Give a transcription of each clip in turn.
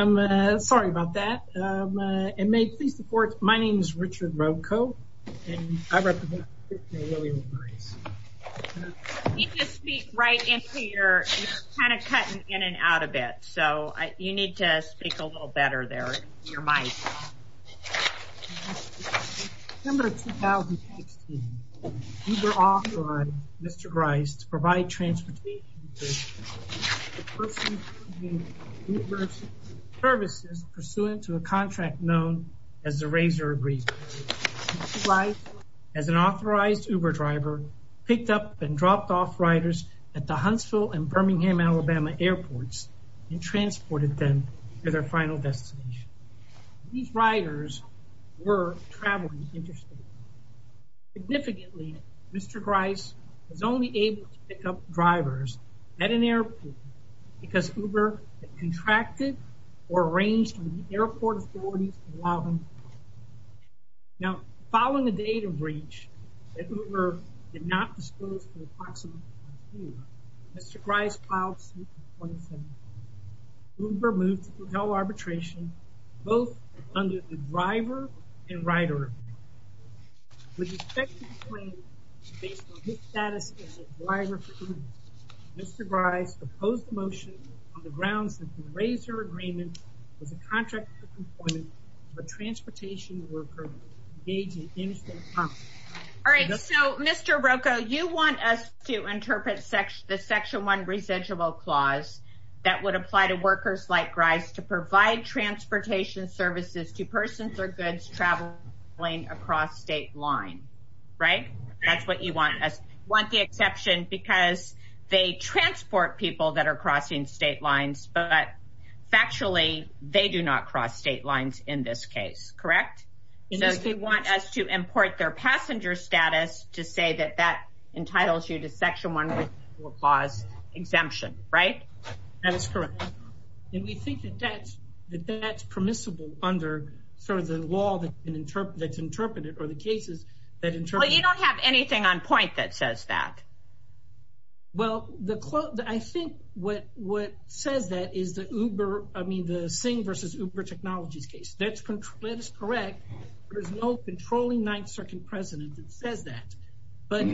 I'm sorry about that and may please support. My name is Richard Rocco and I represent the Association of Women with Disabilities. You just speak right into your, you're kind of cutting in and out a bit so you need to speak a little better there in your mic. In December 2016, Uber authorized Mr. Grice to provide transportation services pursuant to a contract known as the Razor Agreement. Mr. Grice, as an authorized Uber driver, picked up and dropped off riders at the Huntsville and Birmingham, Alabama airports and transported them to their final destination. These riders were traveling interstate. Significantly, Mr. Grice was only able to pick up drivers at an airport because Uber contracted or arranged with the airport authorities to allow them. Now, following a data breach that Uber did not dispose of approximately a year, Mr. Grice filed suit in 2017. Uber moved to fulfill arbitration both under the driver and rider agreement. With respect to the claim, based on his status as a driver for Uber, Mr. Grice opposed the motion on the grounds that the Razor Agreement was a contract for employment of a transportation worker engaged in interstate commerce. All right, so Mr. Rocco, you want us to interpret the Section 1 residual clause that would apply to workers like Grice to provide transportation services to persons or goods traveling across state line, right? That's what you want. You want the exception because they transport people that are crossing state lines, but factually, they do not cross state lines in this case, correct? So you want us to import their passenger status to say that that entitles you to Section 1 residual clause exemption, right? That is correct. And we think that that's permissible under sort of the law that's interpreted or the cases that interpret it. Well, you don't have anything on point that says that. Well, I think what says that is the Uber, I mean, the Singh versus Uber Technologies case. That is correct. There's no controlling Ninth Circuit precedent that says that. But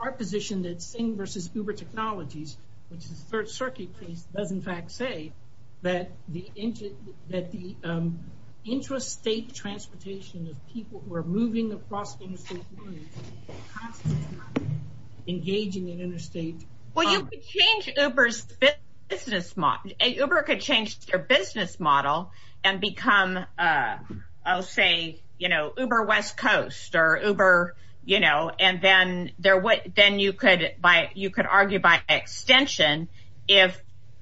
our position that Singh versus Uber Technologies, which is the Third Circuit case, does in fact say that the interstate transportation of people who are moving across interstate lines is constantly engaging in interstate commerce. Then you could argue by extension if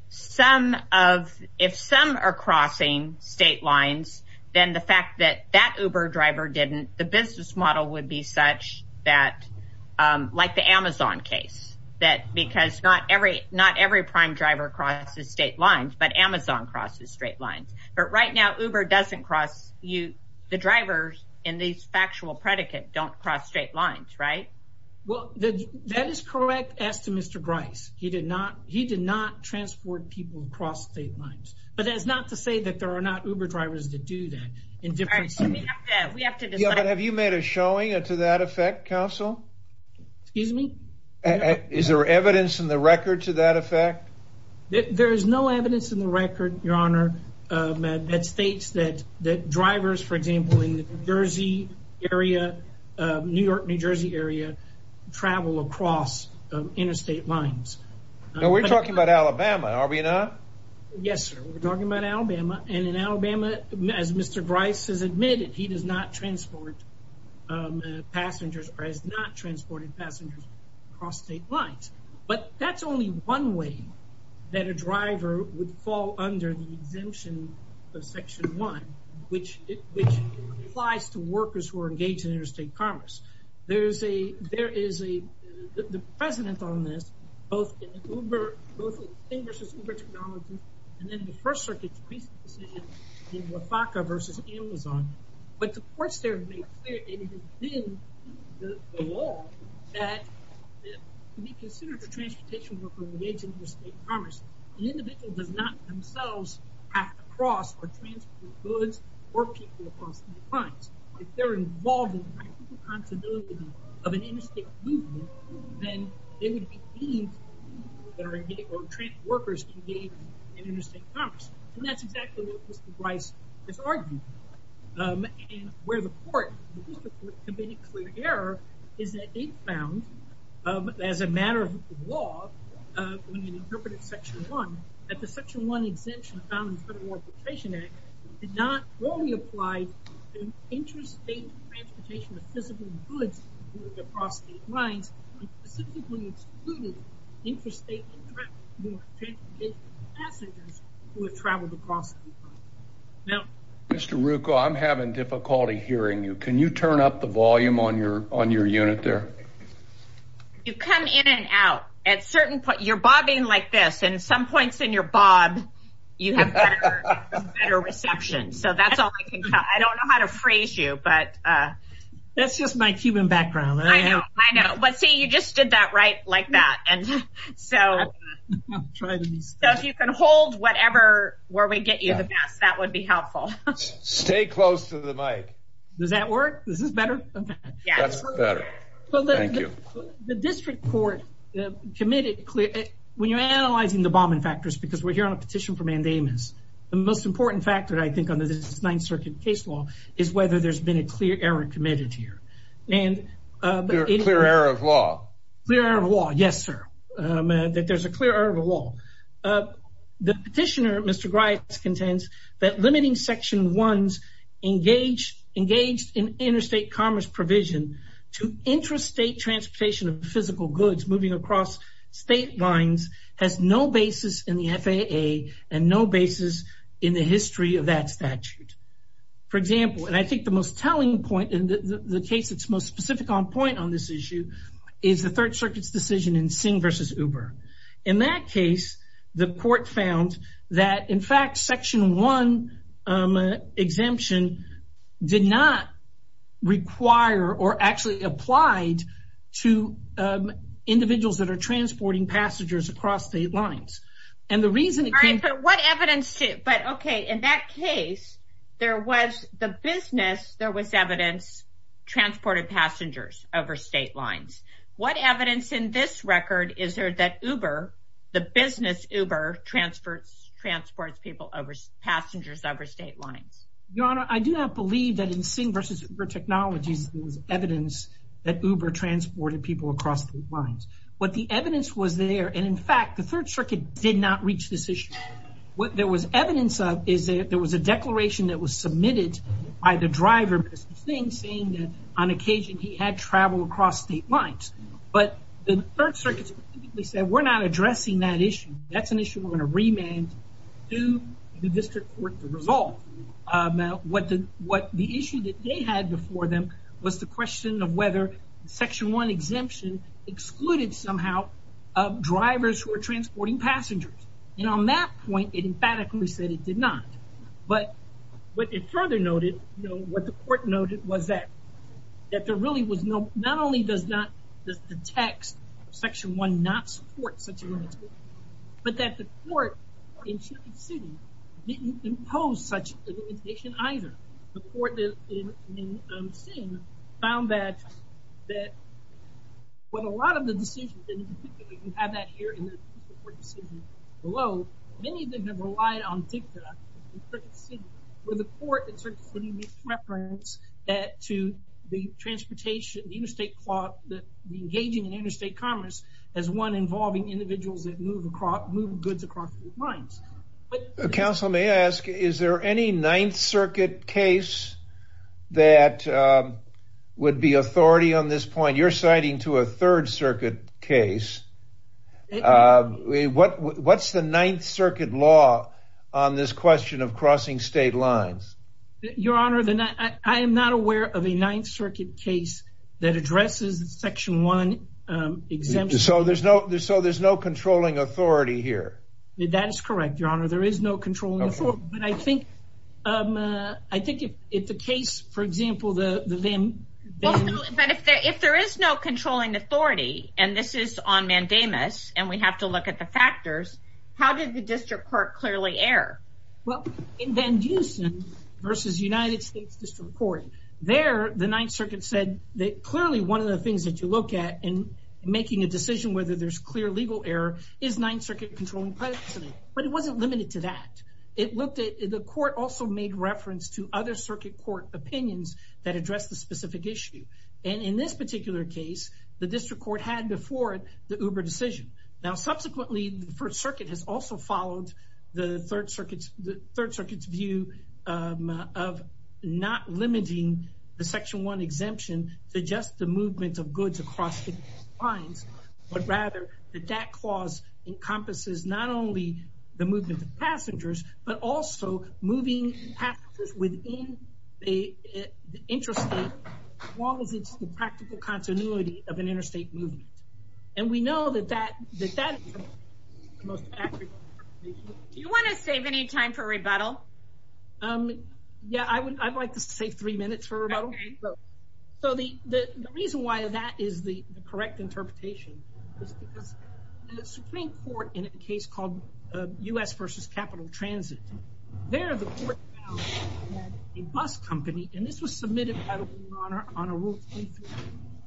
some are crossing state lines, then the fact that that Uber driver didn't, the business model would be such that, like the Amazon case, that because not every prime driver crosses state lines, but Amazon crosses straight lines. But right now, Uber doesn't cross, the drivers in these factual predicate don't cross straight lines, right? Well, that is correct as to Mr. Grice. He did not transport people across state lines. But that is not to say that there are not Uber drivers that do that. But have you made a showing to that effect, counsel? Excuse me? Is there evidence in the record to that effect? There is no evidence in the record, Your Honor, that states that drivers, for example, in the New Jersey area, New York, New Jersey area, travel across interstate lines. No, we're talking about Alabama, are we not? Yes, sir. We're talking about Alabama. And in Alabama, as Mr. Grice has admitted, he does not transport passengers or has not transported passengers across state lines. But that's only one way that a driver would fall under the exemption of Section 1, which applies to workers who are engaged in interstate commerce. There is a precedent on this, both in Uber, both in Uber technology and in the First Circuit's recent decision in LAFACA versus Amazon. But the courts there have made clear and have been the law that to be considered a transportation worker engaged in interstate commerce, an individual does not themselves have to cross or transport goods or people across state lines. If they're involved in the practical responsibility of an interstate movement, then they would be deemed or transit workers engaged in interstate commerce. And that's exactly what Mr. Grice has argued. And where the court, the district court, committed clear error is that it found, as a matter of law, when it interpreted Section 1, that the Section 1 exemption found in the Federal Transportation Act did not only apply to interstate transportation of physical goods moving across state lines, but specifically excluded interstate passengers who have traveled across state lines. Mr. Rucco, I'm having difficulty hearing you. Can you turn up the volume on your unit there? You come in and out. At certain points, you're bobbing like this. And at some points in your bob, you have better reception. So that's all I can tell. I don't know how to phrase you, but... That's just my Cuban background. I know, I know. But see, you just did that right like that. So if you can hold whatever, where we get you the best, that would be helpful. Stay close to the mic. Does that work? Is this better? Yes. That's better. Thank you. The district court committed clear... When you're analyzing the bombing factors, because we're here on a petition for mandamus, the most important factor, I think, under this Ninth Circuit case law is whether there's been a clear error committed here. Clear error of law. Clear error of law. Yes, sir. That there's a clear error of law. The petitioner, Mr. Grice, contends that limiting Section 1's engaged in interstate commerce provision to intrastate transportation of physical goods moving across state lines has no basis in the FAA and no basis in the history of that statute. For example, and I think the most telling point in the case that's most specific on point on this issue is the Third Circuit's decision in Singh v. Uber. In that case, the court found that, in fact, Section 1 exemption did not require or actually applied to individuals that are transporting passengers across state lines. In that case, there was the business, there was evidence transported passengers over state lines. What evidence in this record is there that Uber, the business Uber, transports passengers over state lines? Your Honor, I do not believe that in Singh v. Uber technologies there was evidence that Uber transported people across state lines. But the evidence was there, and in fact, the Third Circuit did not reach this issue. What there was evidence of is there was a declaration that was submitted by the driver, Mr. Singh, saying that on occasion he had traveled across state lines. But the Third Circuit specifically said, we're not addressing that issue. That's an issue we're going to remand to the district court to resolve. What the issue that they had before them was the question of whether Section 1 exemption excluded somehow drivers who are transporting passengers. And on that point, it emphatically said it did not. But what it further noted, what the court noted was that there really was no, not only does the text of Section 1 not support such a limitation, but that the court in Chiefton City didn't impose such a limitation either. The court in Singh found that with a lot of the decisions, and you have that here in the court decision below, many of them have relied on DICTA, where the court certainly makes reference to the transportation, the interstate plot, the engaging in interstate commerce as one involving individuals that move goods across lines. Counsel may ask, is there any Ninth Circuit case that would be authority on this point? You're citing to a Third Circuit case. What's the Ninth Circuit law on this question of crossing state lines? Your Honor, I am not aware of a Ninth Circuit case that addresses Section 1 exemption. So there's no controlling authority here? That is correct, Your Honor. There is no controlling authority. But I think if the case, for example, the Van— But if there is no controlling authority, and this is on mandamus, and we have to look at the factors, how did the district court clearly err? Well, in Van Dusen versus United States District Court, there the Ninth Circuit said that clearly one of the things that you look at in making a decision whether there's clear legal error is Ninth Circuit controlling precedent. But it wasn't limited to that. It looked at—the court also made reference to other circuit court opinions that address the specific issue. And in this particular case, the district court had before it the Uber decision. Now, subsequently, the First Circuit has also followed the Third Circuit's view of not limiting the Section 1 exemption to just the movement of goods across the lines, but rather that that clause encompasses not only the movement of passengers, but also moving passengers within the interstate as long as it's the practical continuity of an interstate movement. And we know that that is the most accurate interpretation. Do you want to save any time for rebuttal? Yeah, I would like to save three minutes for rebuttal. Okay. So the reason why that is the correct interpretation is because the Supreme Court, in a case called U.S. versus Capital Transit, there the court found that a bus company—and this was submitted by the rule on a Rule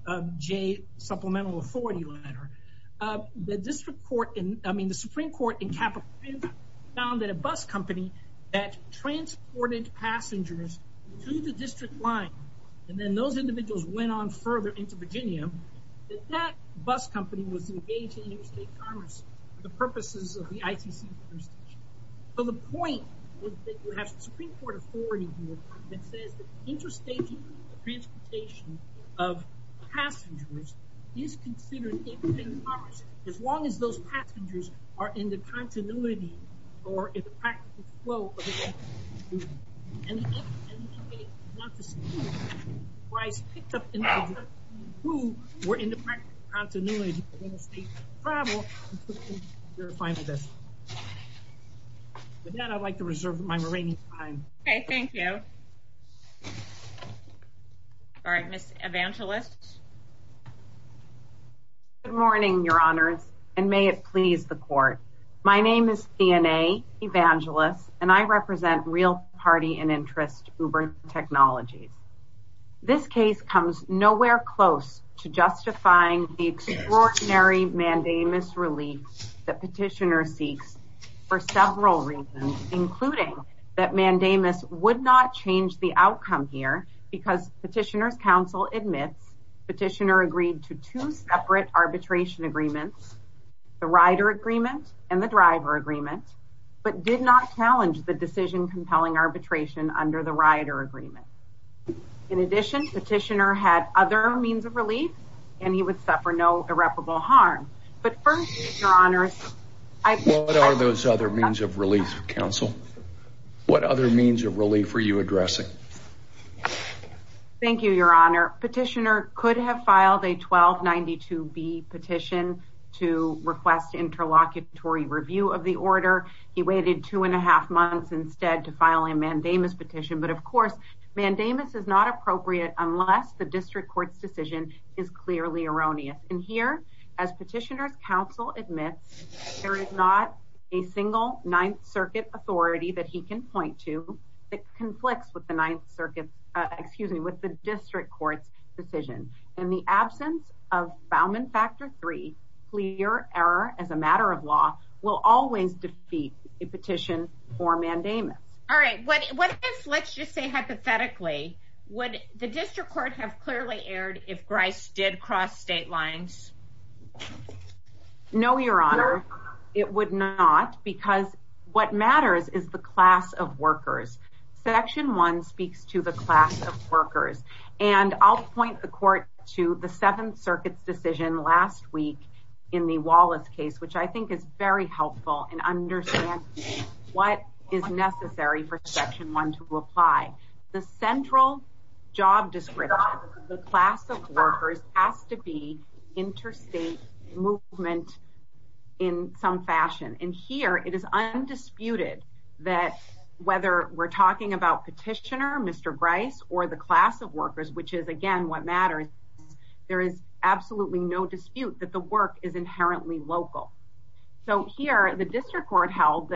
23J supplemental authority letter— that the Supreme Court in Capital Transit found that a bus company that transported passengers through the district line, and then those individuals went on further into Virginia, that that bus company was engaged in interstate commerce for the purposes of the ICC. So the point is that you have Supreme Court authority that says that interstate transportation of passengers is considered interstate commerce as long as those passengers are in the continuity or in the practical flow of an interstate movement. And if an interstate not to speak was picked up in an interstate movement who were in the practical continuity of interstate travel, then you're fine with this. With that, I'd like to reserve my remaining time. Okay, thank you. All right, Ms. Evangelist. Good morning, Your Honors, and may it please the Court. My name is Deanna Evangelist, and I represent Real Party and Interest Uber Technologies. This case comes nowhere close to justifying the extraordinary mandamus relief that petitioner seeks for several reasons, including that mandamus would not change the outcome here because petitioner's counsel admits petitioner agreed to two separate arbitration agreements, the rider agreement and the driver agreement, but did not challenge the decision compelling arbitration under the rider agreement. In addition, petitioner had other means of relief, and he would suffer no irreparable harm. What are those other means of relief, counsel? What other means of relief were you addressing? Thank you, Your Honor. Petitioner could have filed a 1292B petition to request interlocutory review of the order. He waited two and a half months instead to file a mandamus petition. But, of course, mandamus is not appropriate unless the district court's decision is clearly erroneous. And here, as petitioner's counsel admits, there is not a single Ninth Circuit authority that he can point to that conflicts with the district court's decision. In the absence of Bauman Factor III, clear error as a matter of law will always defeat a petition for mandamus. All right, let's just say hypothetically, would the district court have clearly erred if Grice did cross state lines? No, Your Honor, it would not, because what matters is the class of workers. Section 1 speaks to the class of workers. And I'll point the court to the Seventh Circuit's decision last week in the Wallace case, which I think is very helpful in understanding what is necessary for Section 1 to apply. The central job description of the class of workers has to be interstate movement in some fashion. And here, it is undisputed that whether we're talking about petitioner, Mr. Grice, or the class of workers, which is, again, what matters, there is absolutely no dispute that the work is inherently local. So here, the district court held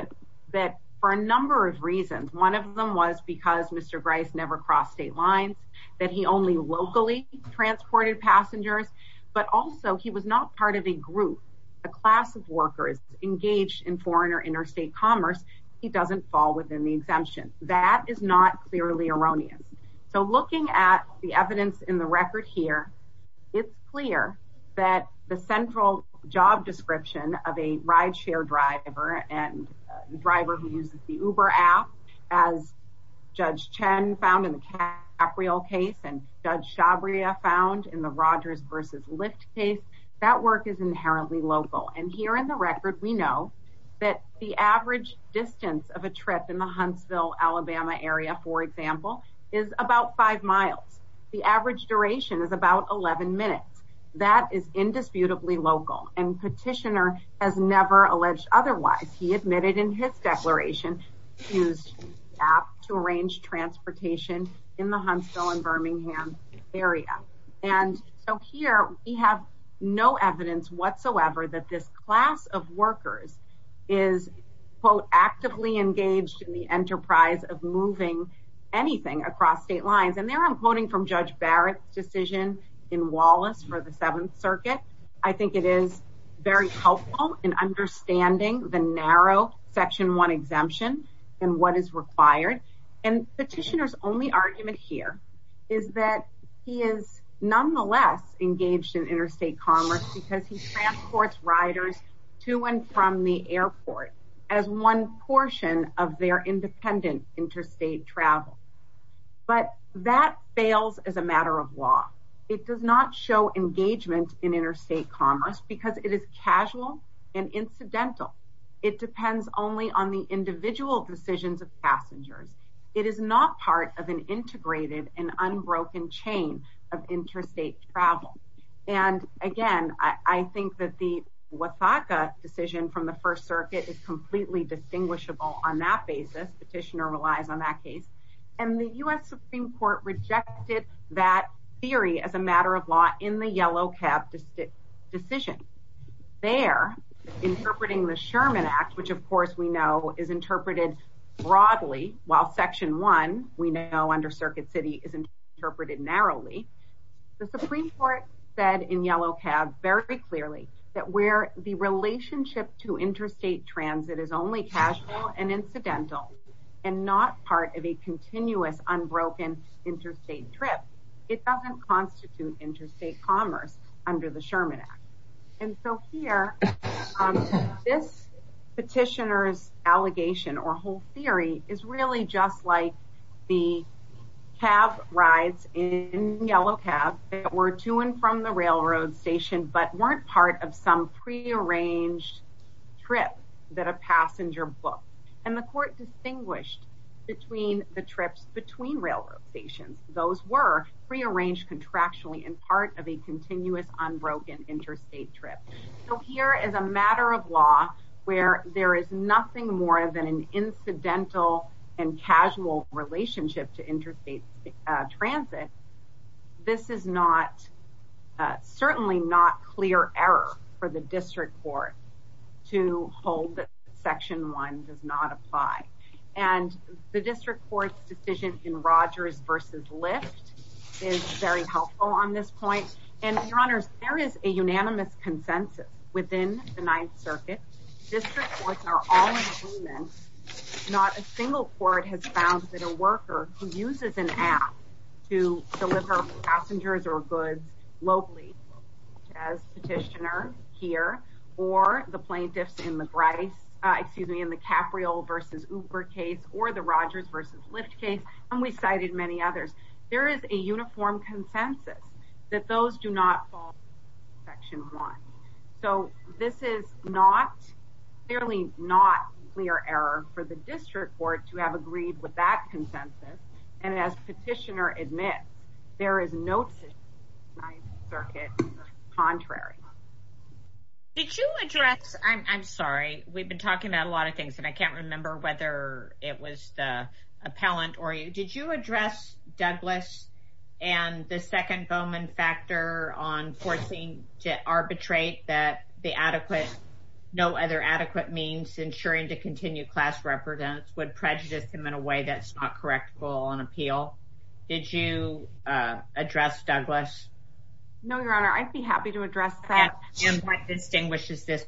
that for a number of reasons. One of them was because Mr. Grice never crossed state lines, that he only locally transported passengers, but also he was not part of a group, a class of workers engaged in foreign or interstate commerce. He doesn't fall within the exemption. That is not clearly erroneous. So looking at the evidence in the record here, it's clear that the central job description of a rideshare driver and driver who uses the Uber app, as Judge Chen found in the Capriol case and Judge Shabria found in the Rogers versus Lyft case, that work is inherently local. And here in the record, we know that the average distance of a trip in the Huntsville, Alabama area, for example, is about five miles. The average duration is about 11 minutes. That is indisputably local, and petitioner has never alleged otherwise. He admitted in his declaration he used the app to arrange transportation in the Huntsville and Birmingham area. And so here we have no evidence whatsoever that this class of workers is, quote, actively engaged in the enterprise of moving anything across state lines. And there I'm quoting from Judge Barrett's decision in Wallace for the Seventh Circuit. I think it is very helpful in understanding the narrow Section 1 exemption and what is required. And petitioner's only argument here is that he is nonetheless engaged in interstate commerce because he transports riders to and from the airport as one portion of their independent interstate travel. But that fails as a matter of law. It does not show engagement in interstate commerce because it is casual and incidental. It depends only on the individual decisions of passengers. It is not part of an integrated and unbroken chain of interstate travel. And, again, I think that the Wataka decision from the First Circuit is completely distinguishable on that basis. Petitioner relies on that case. And the U.S. Supreme Court rejected that theory as a matter of law in the Yellow Cab decision. There, interpreting the Sherman Act, which, of course, we know is interpreted broadly, while Section 1, we know under Circuit City, is interpreted narrowly. The Supreme Court said in Yellow Cab very clearly that where the relationship to interstate transit is only casual and incidental and not part of a continuous, unbroken interstate trip, it doesn't constitute interstate commerce under the Sherman Act. And so here, this petitioner's allegation or whole theory is really just like the cab rides in Yellow Cab that were to and from the railroad station but weren't part of some prearranged trip that a passenger booked. And the court distinguished between the trips between railroad stations. Those were prearranged contractually and part of a continuous, unbroken interstate trip. So here, as a matter of law, where there is nothing more than an incidental and casual relationship to interstate transit, this is not, certainly not clear error for the District Court to hold that Section 1 does not apply. And the District Court's decision in Rogers v. Lyft is very helpful on this point. And, Your Honors, there is a unanimous consensus within the Ninth Circuit. District Courts are all in agreement. Not a single court has found that a worker who uses an app to deliver passengers or goods locally, as petitioner here, or the plaintiffs in the Capriol v. Uber case, or the Rogers v. Lyft case, and we cited many others. There is a uniform consensus that those do not fall under Section 1. So this is not, clearly not, clear error for the District Court to have agreed with that consensus. And as petitioner admits, there is no distinction in the Ninth Circuit that is contrary. Did you address, I'm sorry, we've been talking about a lot of things and I can't remember whether it was the appellant or you. Did you address Douglas and the second Bowman factor on forcing to arbitrate that the adequate, no other adequate means ensuring to continue class represents would prejudice him in a way that's not correct for an appeal? Did you address Douglas? No, Your Honor, I'd be happy to address that. And what distinguishes this,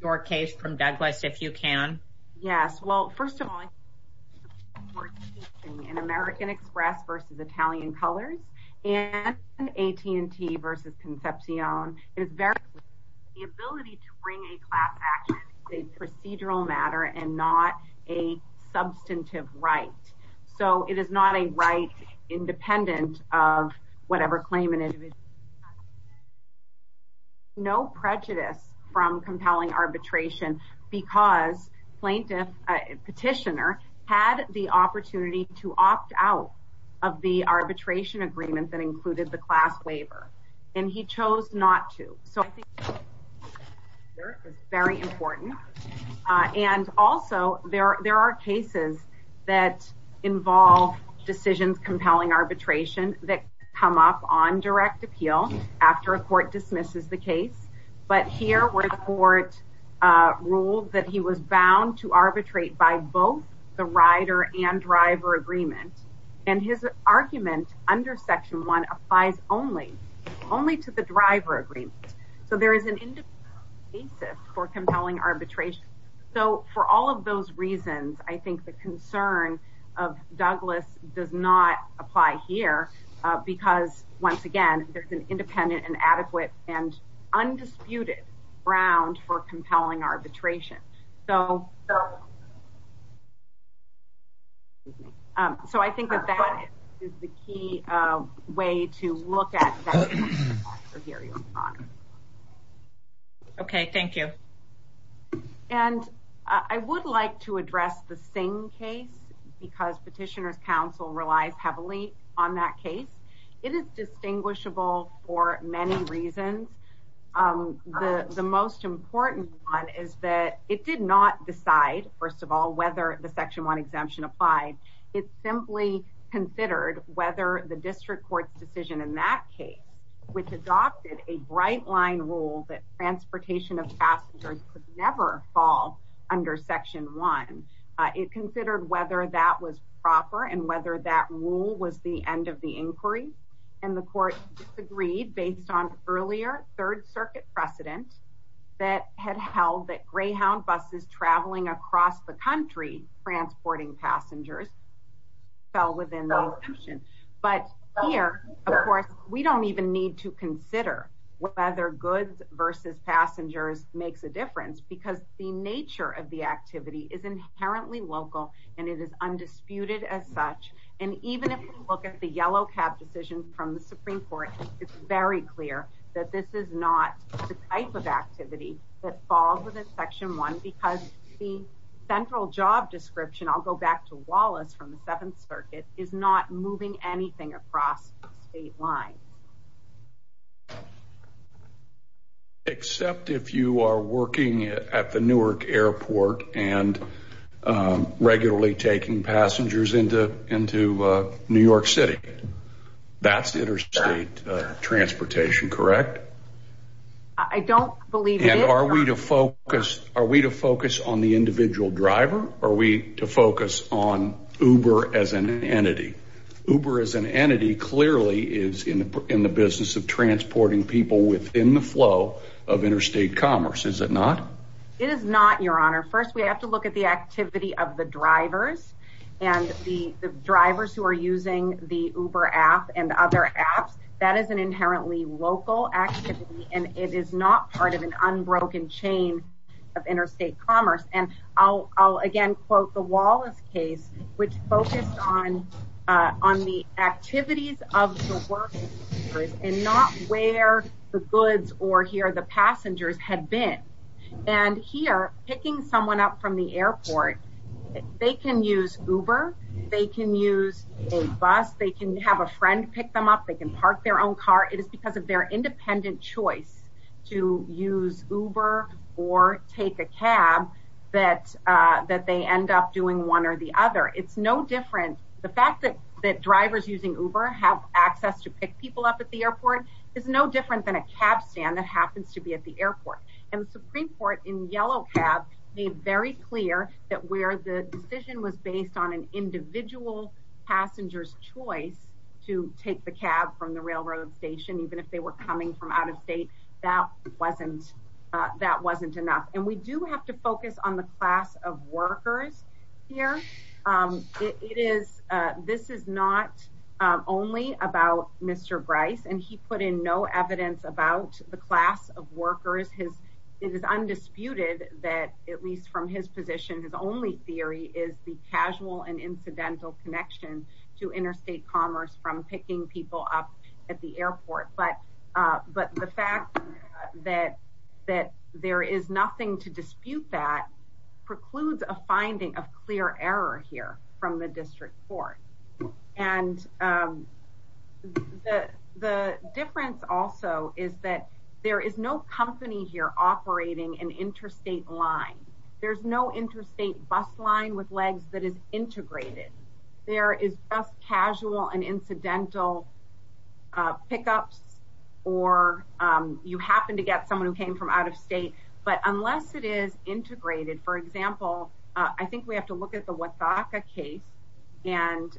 your case, from Douglas, if you can? Yes, well, first of all, in American Express v. Italian Colors and AT&T v. Concepcion, it is very clear that the ability to bring a class action is a procedural matter and not a substantive right. So it is not a right independent of whatever claim an individual has. No prejudice from compelling arbitration because plaintiff, petitioner, had the opportunity to opt out of the arbitration agreement that included the class waiver. And he chose not to. So I think it's very important. And also, there are cases that involve decisions compelling arbitration that come up on direct appeal after a court dismisses the case. But here, where the court ruled that he was bound to arbitrate by both the rider and driver agreement, and his argument under Section 1 applies only, only to the driver agreement. So there is an independent basis for compelling arbitration. So for all of those reasons, I think the concern of Douglas does not apply here because, once again, there's an independent and adequate and undisputed ground for compelling arbitration. So I think that that is the key way to look at that. Okay, thank you. And I would like to address the Singh case because Petitioner's Counsel relies heavily on that case. It is distinguishable for many reasons. The most important one is that it did not decide, first of all, whether the Section 1 exemption applied. It simply considered whether the district court's decision in that case, which adopted a bright-line rule that transportation of passengers could never fall under Section 1, it considered whether that was proper and whether that rule was the end of the inquiry. And the court disagreed based on earlier Third Circuit precedent that had held that Greyhound buses traveling across the country transporting passengers fell within the exemption. But here, of course, we don't even need to consider whether goods versus passengers makes a difference because the nature of the activity is inherently local and it is undisputed as such. And even if we look at the Yellow Cab decision from the Supreme Court, it's very clear that this is not the type of activity that falls within Section 1 because the central job description, I'll go back to Wallace from the Seventh Circuit, is not moving anything across the state line. Except if you are working at the Newark Airport and regularly taking passengers into New York City. That's interstate transportation, correct? I don't believe it. And are we to focus on the individual driver or are we to focus on Uber as an entity? Uber as an entity clearly is in the business of transporting people within the flow of interstate commerce, is it not? It is not, Your Honor. First, we have to look at the activity of the drivers and the drivers who are using the Uber app and other apps. That is an inherently local activity and it is not part of an unbroken chain of interstate commerce. And I'll again quote the Wallace case which focused on the activities of the workers and not where the goods or here the passengers had been. And here, picking someone up from the airport, they can use Uber, they can use a bus, they can have a friend pick them up, they can park their own car. It is because of their independent choice to use Uber or take a cab that they end up doing one or the other. It's no different. The fact that drivers using Uber have access to pick people up at the airport is no different than a cab stand that happens to be at the airport. And the Supreme Court in Yellow Cab made very clear that where the decision was based on an individual passenger's choice to take the cab from the railroad station, even if they were coming from out of state, that wasn't enough. And we do have to focus on the class of workers here. This is not only about Mr. Bryce and he put in no evidence about the class of workers. It is undisputed that, at least from his position, his only theory is the casual and incidental connection to interstate commerce from picking people up at the airport. But the fact that there is nothing to dispute that precludes a finding of clear error here from the district court. And the difference also is that there is no company here operating an interstate line. There's no interstate bus line with legs that is integrated. There is just casual and incidental pickups or you happen to get someone who came from out of state. But unless it is integrated, for example, I think we have to look at the Wataka case and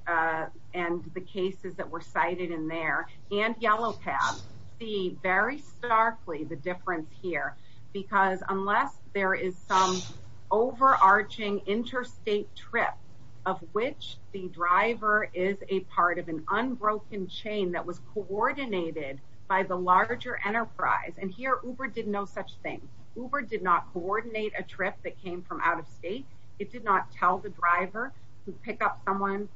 the cases that were cited in there and Yellow Cab, see very starkly the difference here. Because unless there is some overarching interstate trip of which the driver is a part of an unbroken chain that was coordinated by the larger enterprise. And here Uber did no such thing. Uber did not coordinate a trip that came from out of state. It did not tell the driver to pick up someone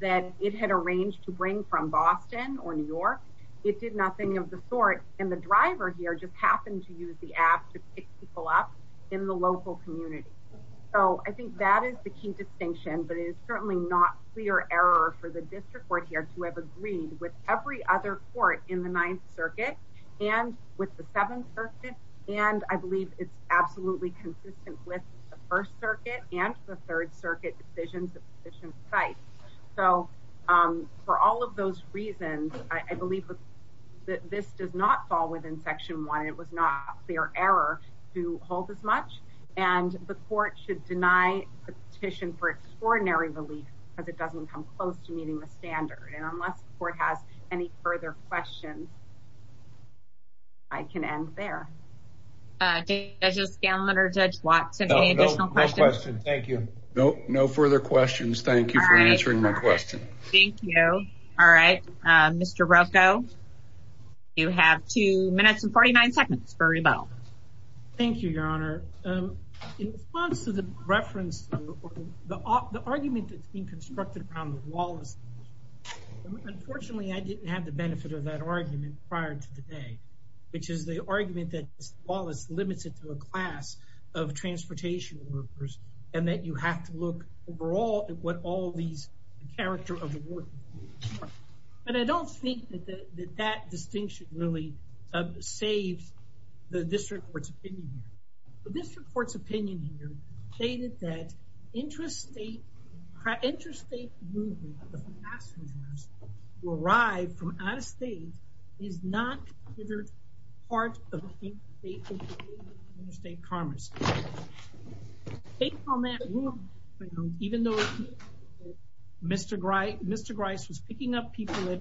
that it had arranged to bring from Boston or New York. It did nothing of the sort. And the driver here just happened to use the app to pick people up in the local community. So I think that is the key distinction, but it is certainly not clear error for the district court here to have agreed with every other court in the 9th Circuit and with the 7th Circuit. And I believe it's absolutely consistent with the 1st Circuit and the 3rd Circuit decisions of sufficient size. So for all of those reasons, I believe that this does not fall within Section 1. It was not clear error to hold as much. And the court should deny the petition for extraordinary relief because it doesn't come close to meeting the standard. And unless the court has any further questions, I can end there. Judge Scanlon or Judge Watson, any additional questions? No, no further questions. Thank you for answering my question. Thank you. All right. Mr. Rocco, you have 2 minutes and 49 seconds for rebuttal. Thank you, Your Honor. In response to the reference, the argument that's been constructed on the Wallace, unfortunately, I didn't have the benefit of that argument prior to the day, which is the argument that Wallace limited to a class of transportation workers and that you have to look overall at what all these character of the work. And I don't think that that distinction really saves the district court's opinion. The district court's opinion here stated that interstate movement of passengers who arrive from out of state is not considered part of interstate commerce. Based on that, even though Mr. Grice was picking up people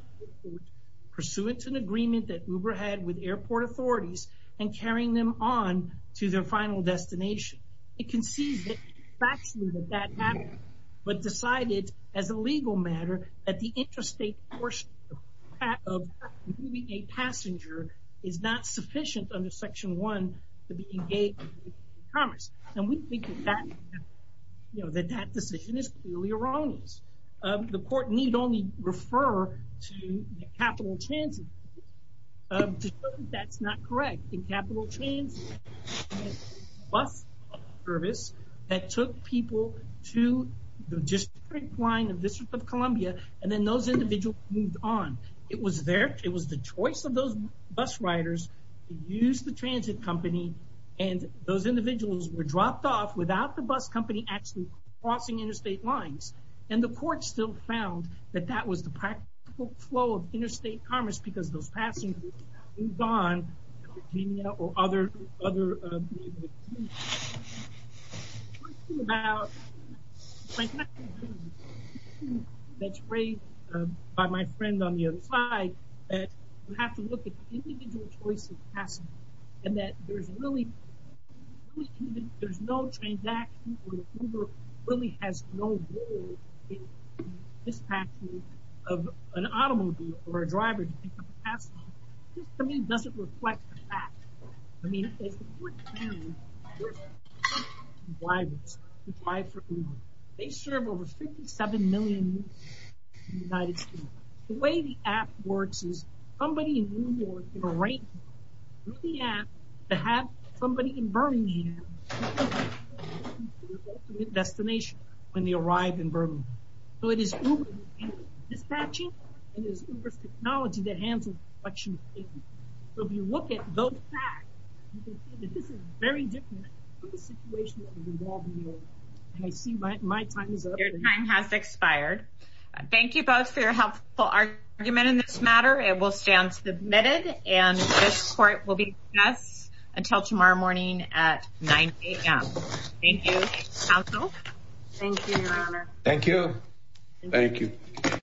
pursuant to an agreement that Uber had with airport authorities and carrying them on to their final destination, it concedes that factually that that happened, but decided as a legal matter that the interstate portion of moving a passenger is not sufficient under Section 1 to be engaged in commerce. And we think that that decision is clearly erroneous. The court need only refer to Capital Transit. That's not correct. In Capital Transit, bus service that took people to the district line of District of Columbia, and then those individuals moved on. It was the choice of those bus riders to use the transit company, and those individuals were dropped off without the bus company actually crossing interstate lines. And the court still found that that was the practical flow of interstate commerce because those passengers moved on to Virginia or other places. I have a question about the question that's raised by my friend on the other side, that you have to look at the individual choice of passengers, and that there's no transaction where Uber really has no role in the dispatch of an automobile or a driver to pick up a passenger. This, to me, doesn't reflect the fact. I mean, as the court found, there's a lot of drivers who drive for Uber. They serve over 57 million people in the United States. The way the app works is somebody in New York can arrange through the app to have somebody in Birmingham go to their ultimate destination when they arrive in Birmingham. So it is Uber's dispatching, and it is Uber's technology that handles the collection of passengers. So if you look at those facts, you can see that this is very different from the situation that was involved in New York. And I see my time is up. Your time has expired. Thank you both for your helpful argument in this matter. It will stand submitted, and this court will be in session until tomorrow morning at 9 a.m. Thank you, counsel. Thank you, Your Honor. Thank you. Thank you.